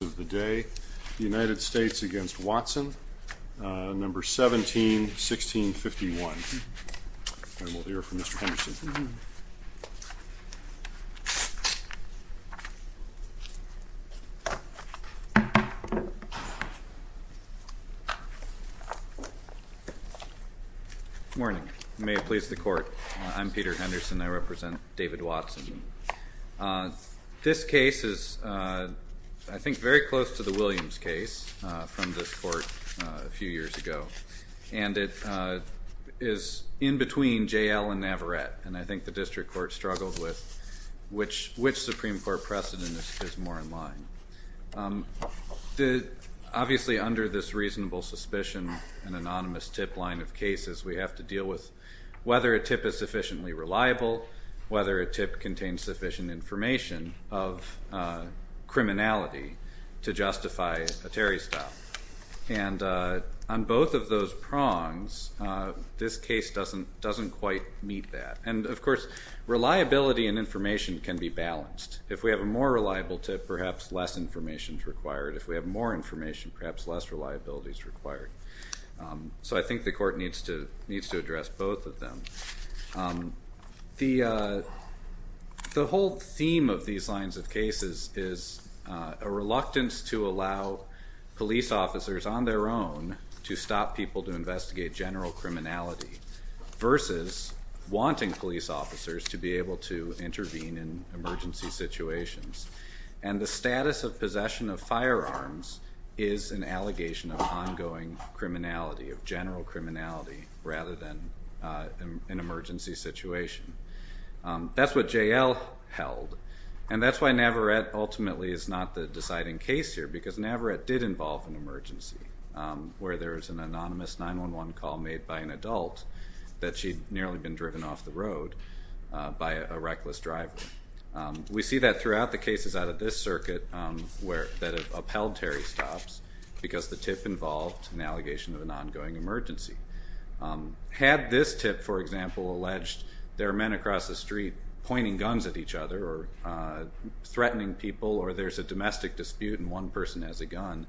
of the day. The United States v. Watson, number 17-1651. And we'll hear from Mr. Henderson. Good morning. May it please the Court. I'm Peter Henderson. I represent David Watson. This case is, I think, very close to the Williams case from this Court a few years ago. And it is in between J.L. and Navarette. And I think the District Court struggled with which Supreme Court precedent is more in line. Obviously, under this reasonable suspicion and anonymous tip line of cases, we have to deal with whether a tip is sufficiently reliable, whether a tip contains sufficient information of criminality to justify a Terry stop. And on both of those prongs, this case doesn't quite meet that. And, of course, reliability and information can be balanced. If we have a more reliable tip, perhaps less information is required. If we have more information, perhaps less reliability is required. So I think the Court needs to address both of them. The whole theme of these lines of cases is a reluctance to allow police officers on their own to stop people to investigate general criminality versus wanting police officers to be able to intervene in emergency situations. And the status of possession of firearms is an allegation of ongoing criminality, of general criminality, rather than an emergency situation. That's what J.L. held. And that's why Navarette ultimately is not the deciding case here, because Navarette did involve an emergency, where there's an anonymous 911 call made by an adult that she'd nearly been driven off the road by a reckless driver. We see that throughout the cases out of this circuit that have upheld Terry stops, because the tip involved an allegation of an ongoing emergency. Had this tip, for example, alleged there are men across the street pointing guns at each other or threatening people, or there's a domestic dispute and one person has a gun,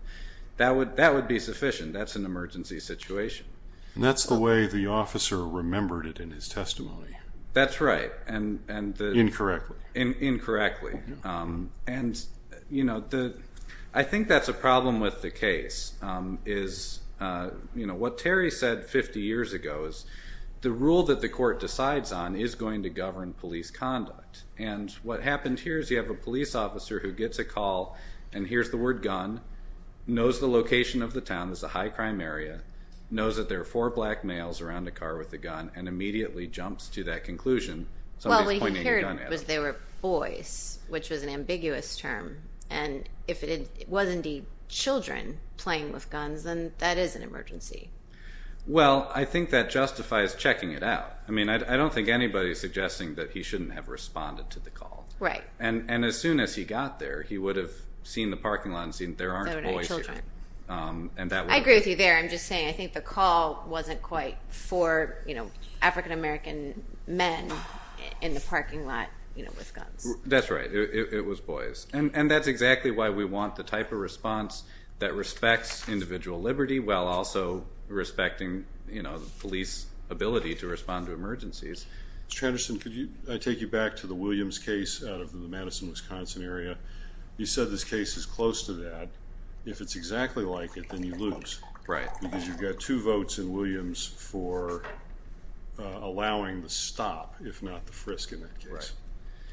that would be sufficient. That's an emergency situation. And that's the way the officer remembered it in his testimony. That's right. Incorrectly. Incorrectly. I think that's a problem with the case. What Terry said 50 years ago is the rule that the court decides on is going to govern police conduct. And what happened here is you have a police officer who gets a call and hears the word gun, knows the location of the town, it's a high crime area, knows that there are four black males around a car with a gun and immediately jumps to that conclusion, somebody's pointing a gun at them. Well, what he heard was there were boys, which was an ambiguous term. And if it was indeed children playing with guns, then that is an emergency. Well, I think that justifies checking it out. I mean, I don't think anybody's suggesting that he shouldn't have responded to the call. Right. And as soon as he got there, he would have seen the parking lot and seen there aren't boys here. There were no children. I agree with you there. I'm just saying I think the call wasn't quite four African-American men in the parking lot with guns. That's right. It was boys. And that's exactly why we want the type of response that respects individual liberty while also respecting the police ability to respond to emergencies. Mr. Anderson, could I take you back to the Williams case out of the Madison, Wisconsin area? You said this case is close to that. If it's exactly like it, then you lose. Right. Because you've got two votes in Williams for allowing the stop, if not the frisk, in that case. Right.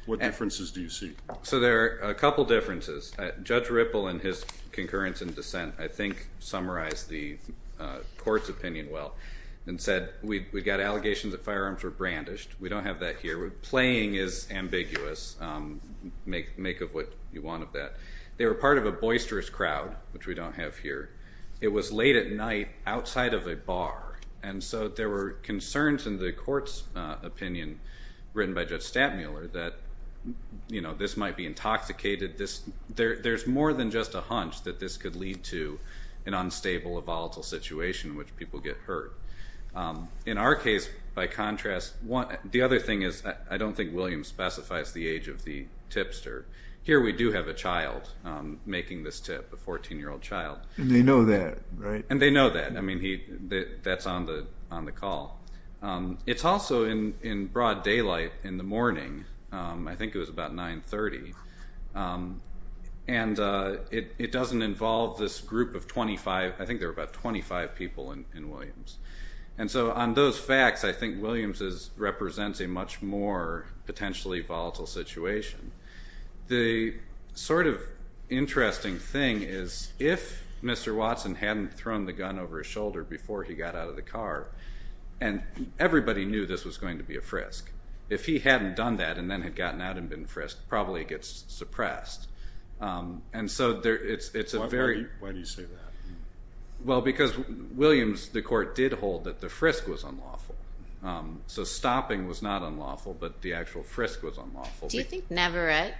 What differences do you see? So there are a couple differences. Judge Ripple, in his concurrence and dissent, I think summarized the court's opinion well and said we've got allegations that firearms were brandished. We don't have that here. Playing is ambiguous. Make of what you want of that. They were part of a boisterous crowd, which we don't have here. It was late at night outside of a bar. And so there were concerns in the court's opinion, written by Judge Stattmuller, that this might be intoxicated. There's more than just a hunch that this could lead to an unstable, a volatile situation in which people get hurt. In our case, by contrast, the other thing is I don't think Williams specifies the age of the tipster. Here we do have a child making this tip, a 14-year-old child. And they know that, right? And they know that. I mean, that's on the call. It's also in broad daylight in the morning. I think it was about 930. And it doesn't involve this group of 25. I think there were about 25 people in Williams. And so on those facts, I think Williams represents a much more potentially volatile situation. The sort of interesting thing is if Mr. Watson hadn't thrown the gun over his shoulder before he got out of the car, and everybody knew this was going to be a frisk. If he hadn't done that and then had gotten out and been frisked, probably he gets suppressed. And so it's a very... Why do you say that? Well, because Williams, the court did hold that the frisk was unlawful. So stopping was not unlawful, but the actual frisk was unlawful. Do you think Navarrette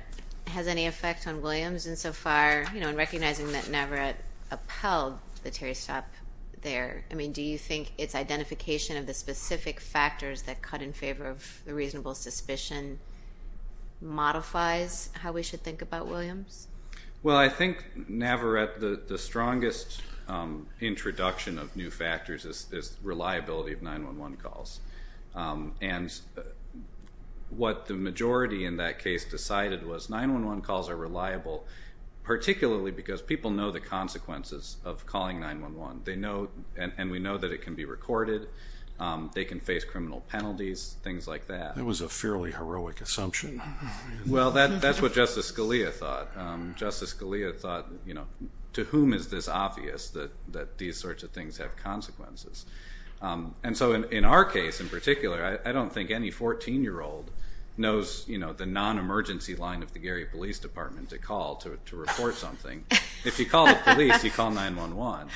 has any effect on Williams insofar, you know, in recognizing that Navarrette upheld the Terry stop there? I mean, do you think its identification of the specific factors that cut in favor of the reasonable suspicion modifies how we should think about Williams? Well, I think Navarrette, the strongest introduction of new factors is reliability of 911 calls. And what the majority in that case decided was 911 calls are reliable, particularly because people know the consequences of calling 911, and we know that it can be recorded, they can face criminal penalties, things like that. That was a fairly heroic assumption. Well, that's what Justice Scalia thought. Justice Scalia thought, you know, to whom is this obvious that these sorts of things have consequences? And so in our case in particular, I don't think any 14-year-old knows, you know, the non-emergency line of the Gary Police Department to call to report something. If you call the police, you call 911.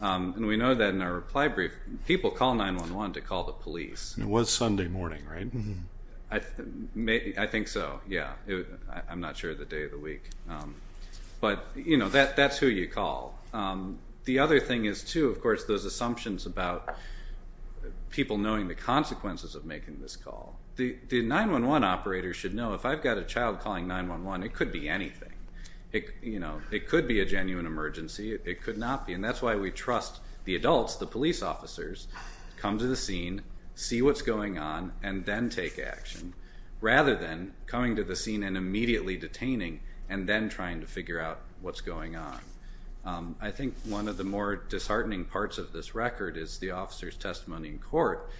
And we know that in our reply brief, people call 911 to call the police. It was Sunday morning, right? I think so, yeah. I'm not sure of the day of the week. But, you know, that's who you call. The other thing is, too, of course, those assumptions about people knowing the consequences of making this call. The 911 operator should know if I've got a child calling 911, it could be anything. You know, it could be a genuine emergency. It could not be. And that's why we trust the adults, the police officers, come to the scene, see what's going on, and then take action, rather than coming to the scene and immediately detaining and then trying to figure out what's going on. I think one of the more disheartening parts of this record is the officer's testimony in court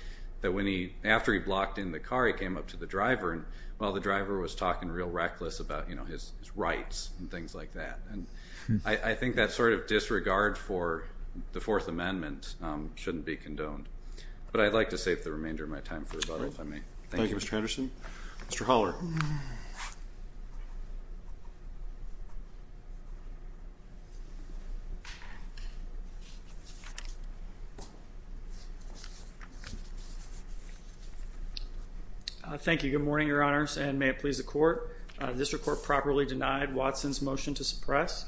that when he, after he blocked in the car, he came up to the driver, and, well, the driver was talking real reckless about, you know, his rights and things like that. And I think that sort of disregard for the Fourth Amendment shouldn't be condoned. But I'd like to save the remainder of my time for rebuttal, if I may. Thank you, Mr. Anderson. Mr. Holler. Thank you. Good morning, Your Honors, and may it please the Court. This report properly denied Watson's motion to suppress.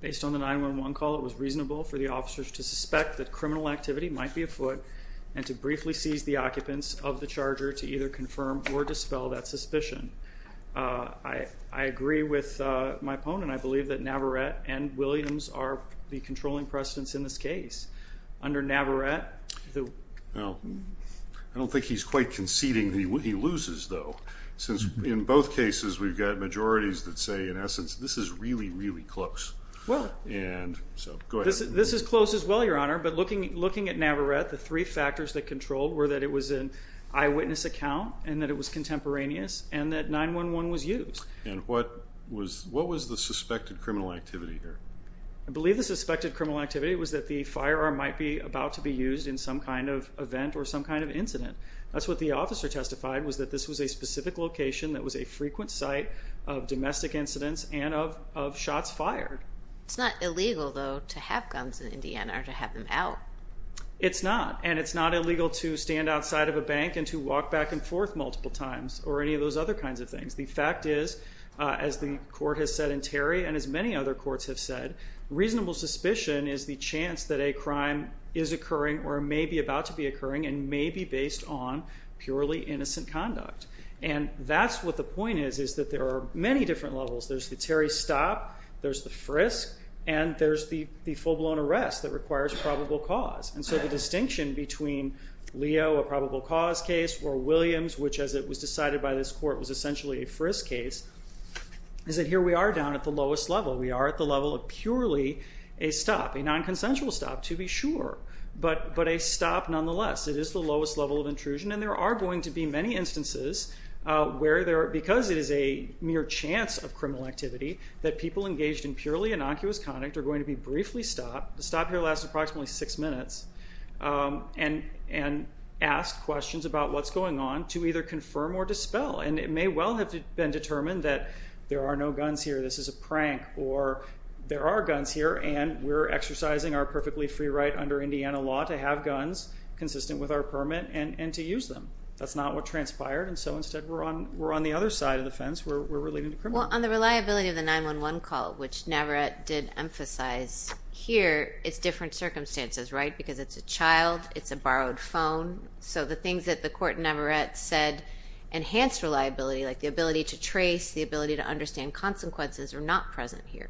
Based on the 911 call, it was reasonable for the officers to suspect that criminal activity might be afoot and to briefly seize the occupants of the Charger to either confirm or dispel that suspicion. I agree with my opponent. I believe that Navarette and Williams are the controlling precedents in this case. Under Navarette, the ---- Well, I don't think he's quite conceding he loses, though, since in both cases we've got majorities that say, in essence, this is really, really close. Well, this is close as well, Your Honor, but looking at Navarette, the three factors that controlled were that it was an eyewitness account and that it was contemporaneous and that 911 was used. And what was the suspected criminal activity here? I believe the suspected criminal activity was that the firearm might be about to be used in some kind of event or some kind of incident. That's what the officer testified was that this was a specific location that was a frequent site of domestic incidents and of shots fired. It's not illegal, though, to have guns in Indiana or to have them out. It's not, and it's not illegal to stand outside of a bank and to walk back and forth multiple times or any of those other kinds of things. The fact is, as the court has said in Terry and as many other courts have said, reasonable suspicion is the chance that a crime is occurring or may be about to be occurring and may be based on purely innocent conduct. And that's what the point is, is that there are many different levels. There's the Terry stop, there's the frisk, and there's the full-blown arrest that requires probable cause. And so the distinction between Leo, a probable cause case, or Williams, which as it was decided by this court was essentially a frisk case, is that here we are down at the lowest level. We are at the level of purely a stop, a nonconsensual stop, to be sure, but a stop nonetheless. It is the lowest level of intrusion, and there are going to be many instances where there are, because it is a mere chance of criminal activity, that people engaged in purely innocuous conduct are going to be briefly stopped. The stop here lasts approximately six minutes, and asked questions about what's going on to either confirm or dispel. And it may well have been determined that there are no guns here, this is a prank, or there are guns here and we're exercising our perfectly free right under Indiana law to have guns consistent with our permit and to use them. That's not what transpired, and so instead we're on the other side of the fence, we're relating to criminals. Well, on the reliability of the 911 call, which Navarette did emphasize here, it's different circumstances, right, because it's a child, it's a borrowed phone. So the things that the court in Navarette said enhanced reliability, like the ability to trace, the ability to understand consequences, are not present here.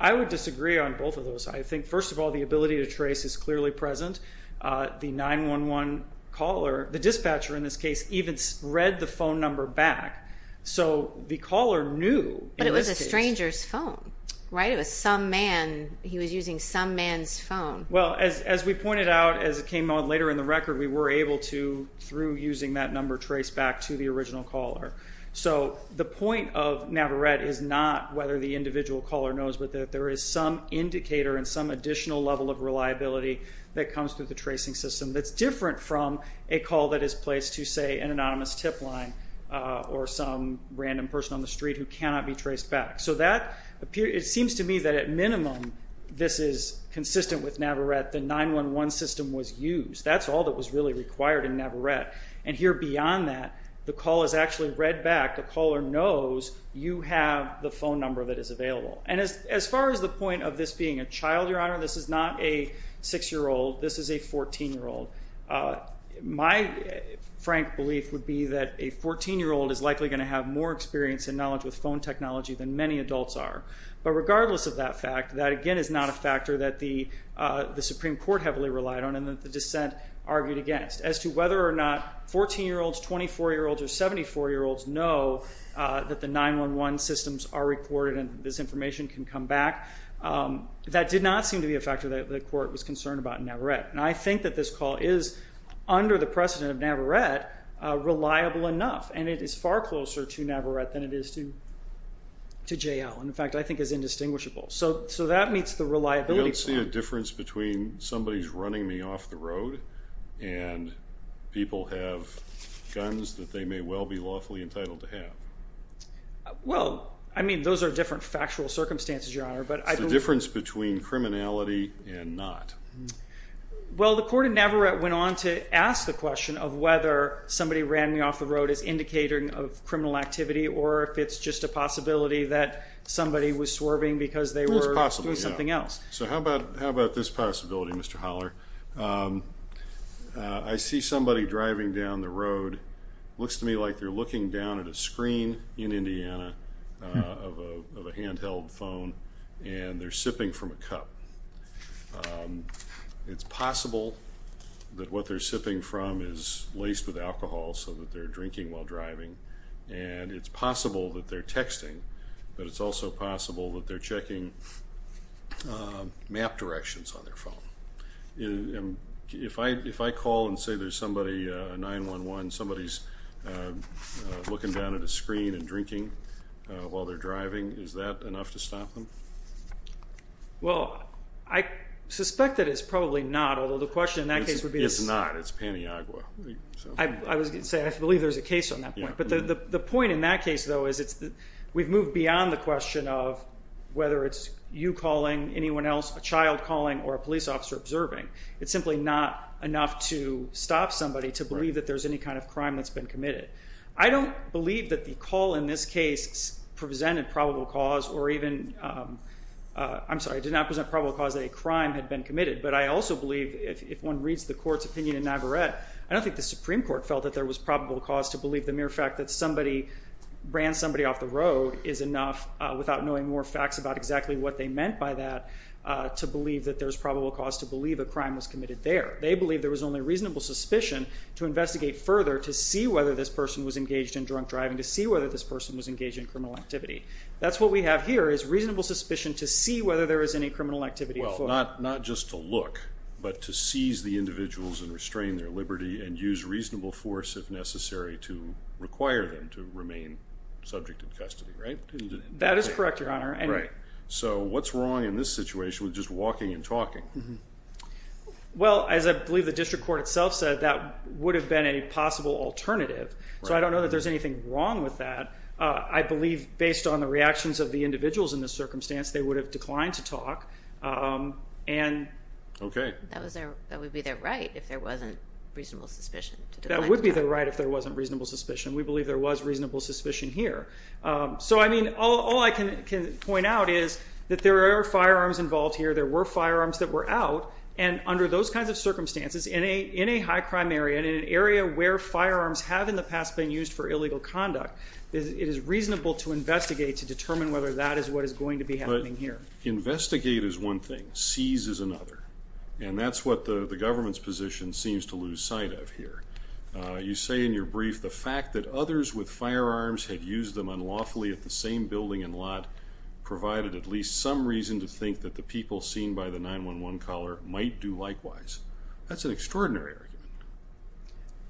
I would disagree on both of those. I think, first of all, the ability to trace is clearly present. The 911 caller, the dispatcher in this case, even read the phone number back. So the caller knew. But it was a stranger's phone, right? It was some man, he was using some man's phone. Well, as we pointed out as it came out later in the record, we were able to, through using that number, trace back to the original caller. So the point of Navarette is not whether the individual caller knows, but that there is some indicator and some additional level of reliability that comes through the tracing system that's different from a call that is placed to, say, an anonymous tip line or some random person on the street who cannot be traced back. So it seems to me that at minimum this is consistent with Navarette. The 911 system was used. That's all that was really required in Navarette. And here beyond that, the call is actually read back. The caller knows you have the phone number that is available. And as far as the point of this being a child, Your Honor, this is not a 6-year-old. This is a 14-year-old. My frank belief would be that a 14-year-old is likely going to have more experience and knowledge with phone technology than many adults are. But regardless of that fact, that, again, is not a factor that the Supreme Court heavily relied on and that the dissent argued against. As to whether or not 14-year-olds, 24-year-olds, or 74-year-olds know that the 911 systems are recorded and this information can come back, that did not seem to be a factor that the Court was concerned about in Navarette. And I think that this call is, under the precedent of Navarette, reliable enough, and it is far closer to Navarette than it is to J.L. In fact, I think it's indistinguishable. So that meets the reliability point. The difference between somebody's running me off the road and people have guns that they may well be lawfully entitled to have. Well, I mean, those are different factual circumstances, Your Honor. The difference between criminality and not. Well, the court in Navarette went on to ask the question of whether somebody ran me off the road is indicating of criminal activity or if it's just a possibility that somebody was swerving because they were doing something else. So how about this possibility, Mr. Holler? I see somebody driving down the road. It looks to me like they're looking down at a screen in Indiana of a handheld phone, and they're sipping from a cup. It's possible that what they're sipping from is laced with alcohol so that they're drinking while driving, and it's possible that they're texting, but it's also possible that they're checking map directions on their phone. If I call and say there's somebody, 911, somebody's looking down at a screen and drinking while they're driving, is that enough to stop them? Well, I suspect that it's probably not, although the question in that case would be to stop. It's not. It's Pantyagua. I was going to say, I believe there's a case on that point. But the point in that case, though, is we've moved beyond the question of whether it's you calling, anyone else, a child calling, or a police officer observing. It's simply not enough to stop somebody to believe that there's any kind of crime that's been committed. I don't believe that the call in this case presented probable cause or even I'm sorry, did not present probable cause that a crime had been committed, but I also believe if one reads the court's opinion in Navarrette, I don't think the Supreme Court felt that there was probable cause to believe the mere fact that somebody ran somebody off the road is enough, without knowing more facts about exactly what they meant by that, to believe that there's probable cause to believe a crime was committed there. They believe there was only reasonable suspicion to investigate further, to see whether this person was engaged in drunk driving, to see whether this person was engaged in criminal activity. That's what we have here is reasonable suspicion to see whether there is any criminal activity. Well, not just to look, but to seize the individuals and restrain their liberty and use reasonable force if necessary to require them to remain subject in custody, right? That is correct, Your Honor. So what's wrong in this situation with just walking and talking? Well, as I believe the district court itself said, that would have been a possible alternative. So I don't know that there's anything wrong with that. I believe based on the reactions of the individuals in this circumstance, they would have declined to talk. Okay. That would be their right if there wasn't reasonable suspicion. That would be their right if there wasn't reasonable suspicion. We believe there was reasonable suspicion here. So, I mean, all I can point out is that there are firearms involved here. There were firearms that were out, and under those kinds of circumstances, in a high crime area, in an area where firearms have in the past been used for illegal conduct, it is reasonable to investigate to determine whether that is what is going to be happening here. But investigate is one thing. Seize is another. And that's what the government's position seems to lose sight of here. You say in your brief the fact that others with firearms had used them unlawfully at the same building and lot provided at least some reason to think that the people seen by the 911 caller might do likewise. That's an extraordinary argument.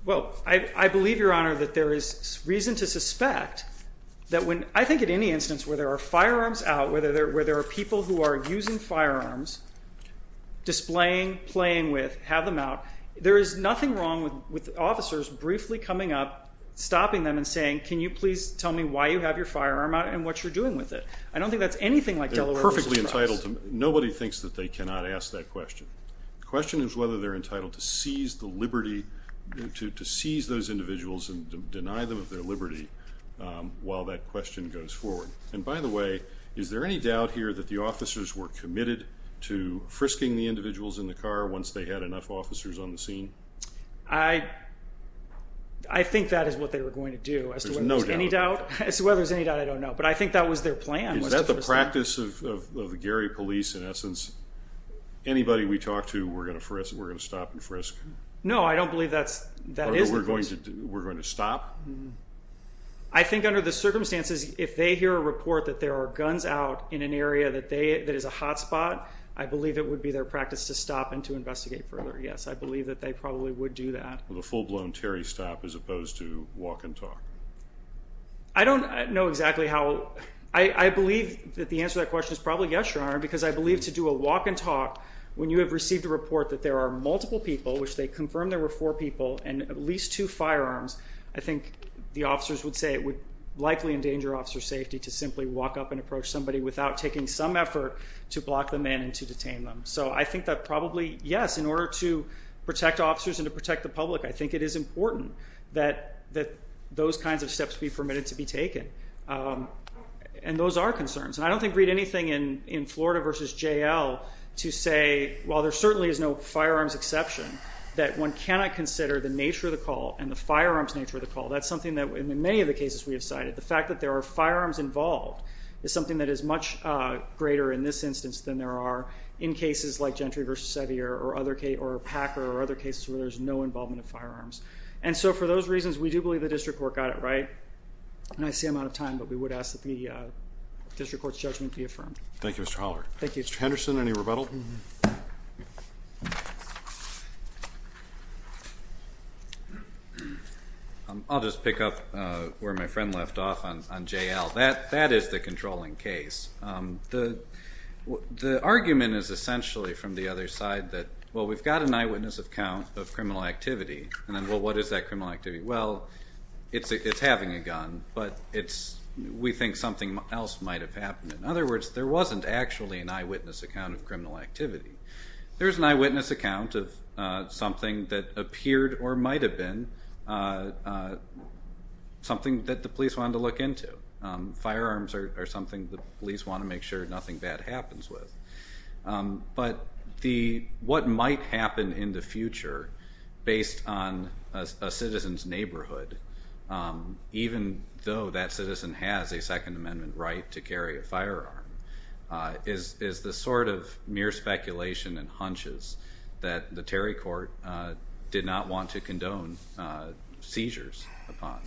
Well, I believe, Your Honor, that there is reason to suspect that when I think at any instance where there are firearms out, where there are people who are using firearms, displaying, playing with, have them out, there is nothing wrong with officers briefly coming up, stopping them and saying, can you please tell me why you have your firearm out and what you're doing with it? I don't think that's anything like Delaware's trust. They're perfectly entitled to them. Nobody thinks that they cannot ask that question. The question is whether they're entitled to seize the liberty, to seize those individuals and deny them of their liberty while that question goes forward. And by the way, is there any doubt here that the officers were committed to frisking the individuals in the car once they had enough officers on the scene? I think that is what they were going to do. There's no doubt about that. As to whether there's any doubt, I don't know. But I think that was their plan. Is that the practice of the Gary police in essence? Anybody we talk to, we're going to stop and frisk? No, I don't believe that is the practice. We're going to stop? I think under the circumstances, if they hear a report that there are guns out in an area that is a hot spot, I believe it would be their practice to stop and to investigate further. Yes, I believe that they probably would do that. With a full-blown Terry stop as opposed to walk and talk? I don't know exactly how. I believe that the answer to that question is probably yes, Your Honor, because I believe to do a walk and talk when you have received a report that there are multiple people, which they confirmed there were four people and at least two firearms, I think the officers would say it would likely endanger officer safety to simply walk up and approach somebody without taking some effort to block them in and to detain them. So I think that probably, yes, in order to protect officers and to protect the public, I think it is important that those kinds of steps be permitted to be taken. And those are concerns. And I don't think we need anything in Florida v. J.L. to say, while there certainly is no firearms exception, that one cannot consider the nature of the call and the firearms nature of the call. That's something that in many of the cases we have cited, the fact that there are firearms involved is something that is much greater in this instance than there are in cases like Gentry v. Sevier or Packer or other cases where there's no involvement of firearms. And so for those reasons, we do believe the district court got it right. And I see I'm out of time, but we would ask that the district court's judgment be affirmed. Thank you, Mr. Holler. Thank you. Mr. Henderson, any rebuttal? I'll just pick up where my friend left off on J.L. That is the controlling case. The argument is essentially from the other side that, well, we've got an eyewitness account of criminal activity, and then, well, what is that criminal activity? Well, it's having a gun, but we think something else might have happened. In other words, there wasn't actually an eyewitness account of criminal activity. It could or might have been something that the police wanted to look into. Firearms are something the police want to make sure nothing bad happens with. But what might happen in the future based on a citizen's neighborhood, even though that citizen has a Second Amendment right to carry a firearm, is the sort of mere speculation and hunches that the Terry court did not want to condone seizures upon.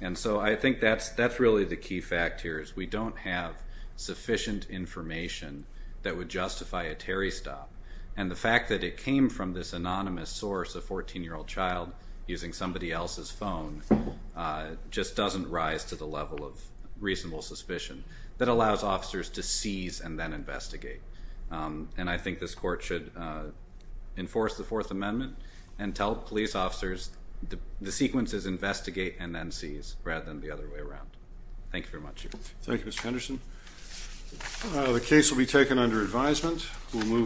And so I think that's really the key fact here is we don't have sufficient information that would justify a Terry stop. And the fact that it came from this anonymous source, a 14-year-old child using somebody else's phone, just doesn't rise to the level of reasonable suspicion. That allows officers to seize and then investigate. And I think this court should enforce the Fourth Amendment and tell police officers the sequence is investigate and then seize rather than the other way around. Thank you very much. Thank you, Mr. Henderson. The case will be taken under advisement.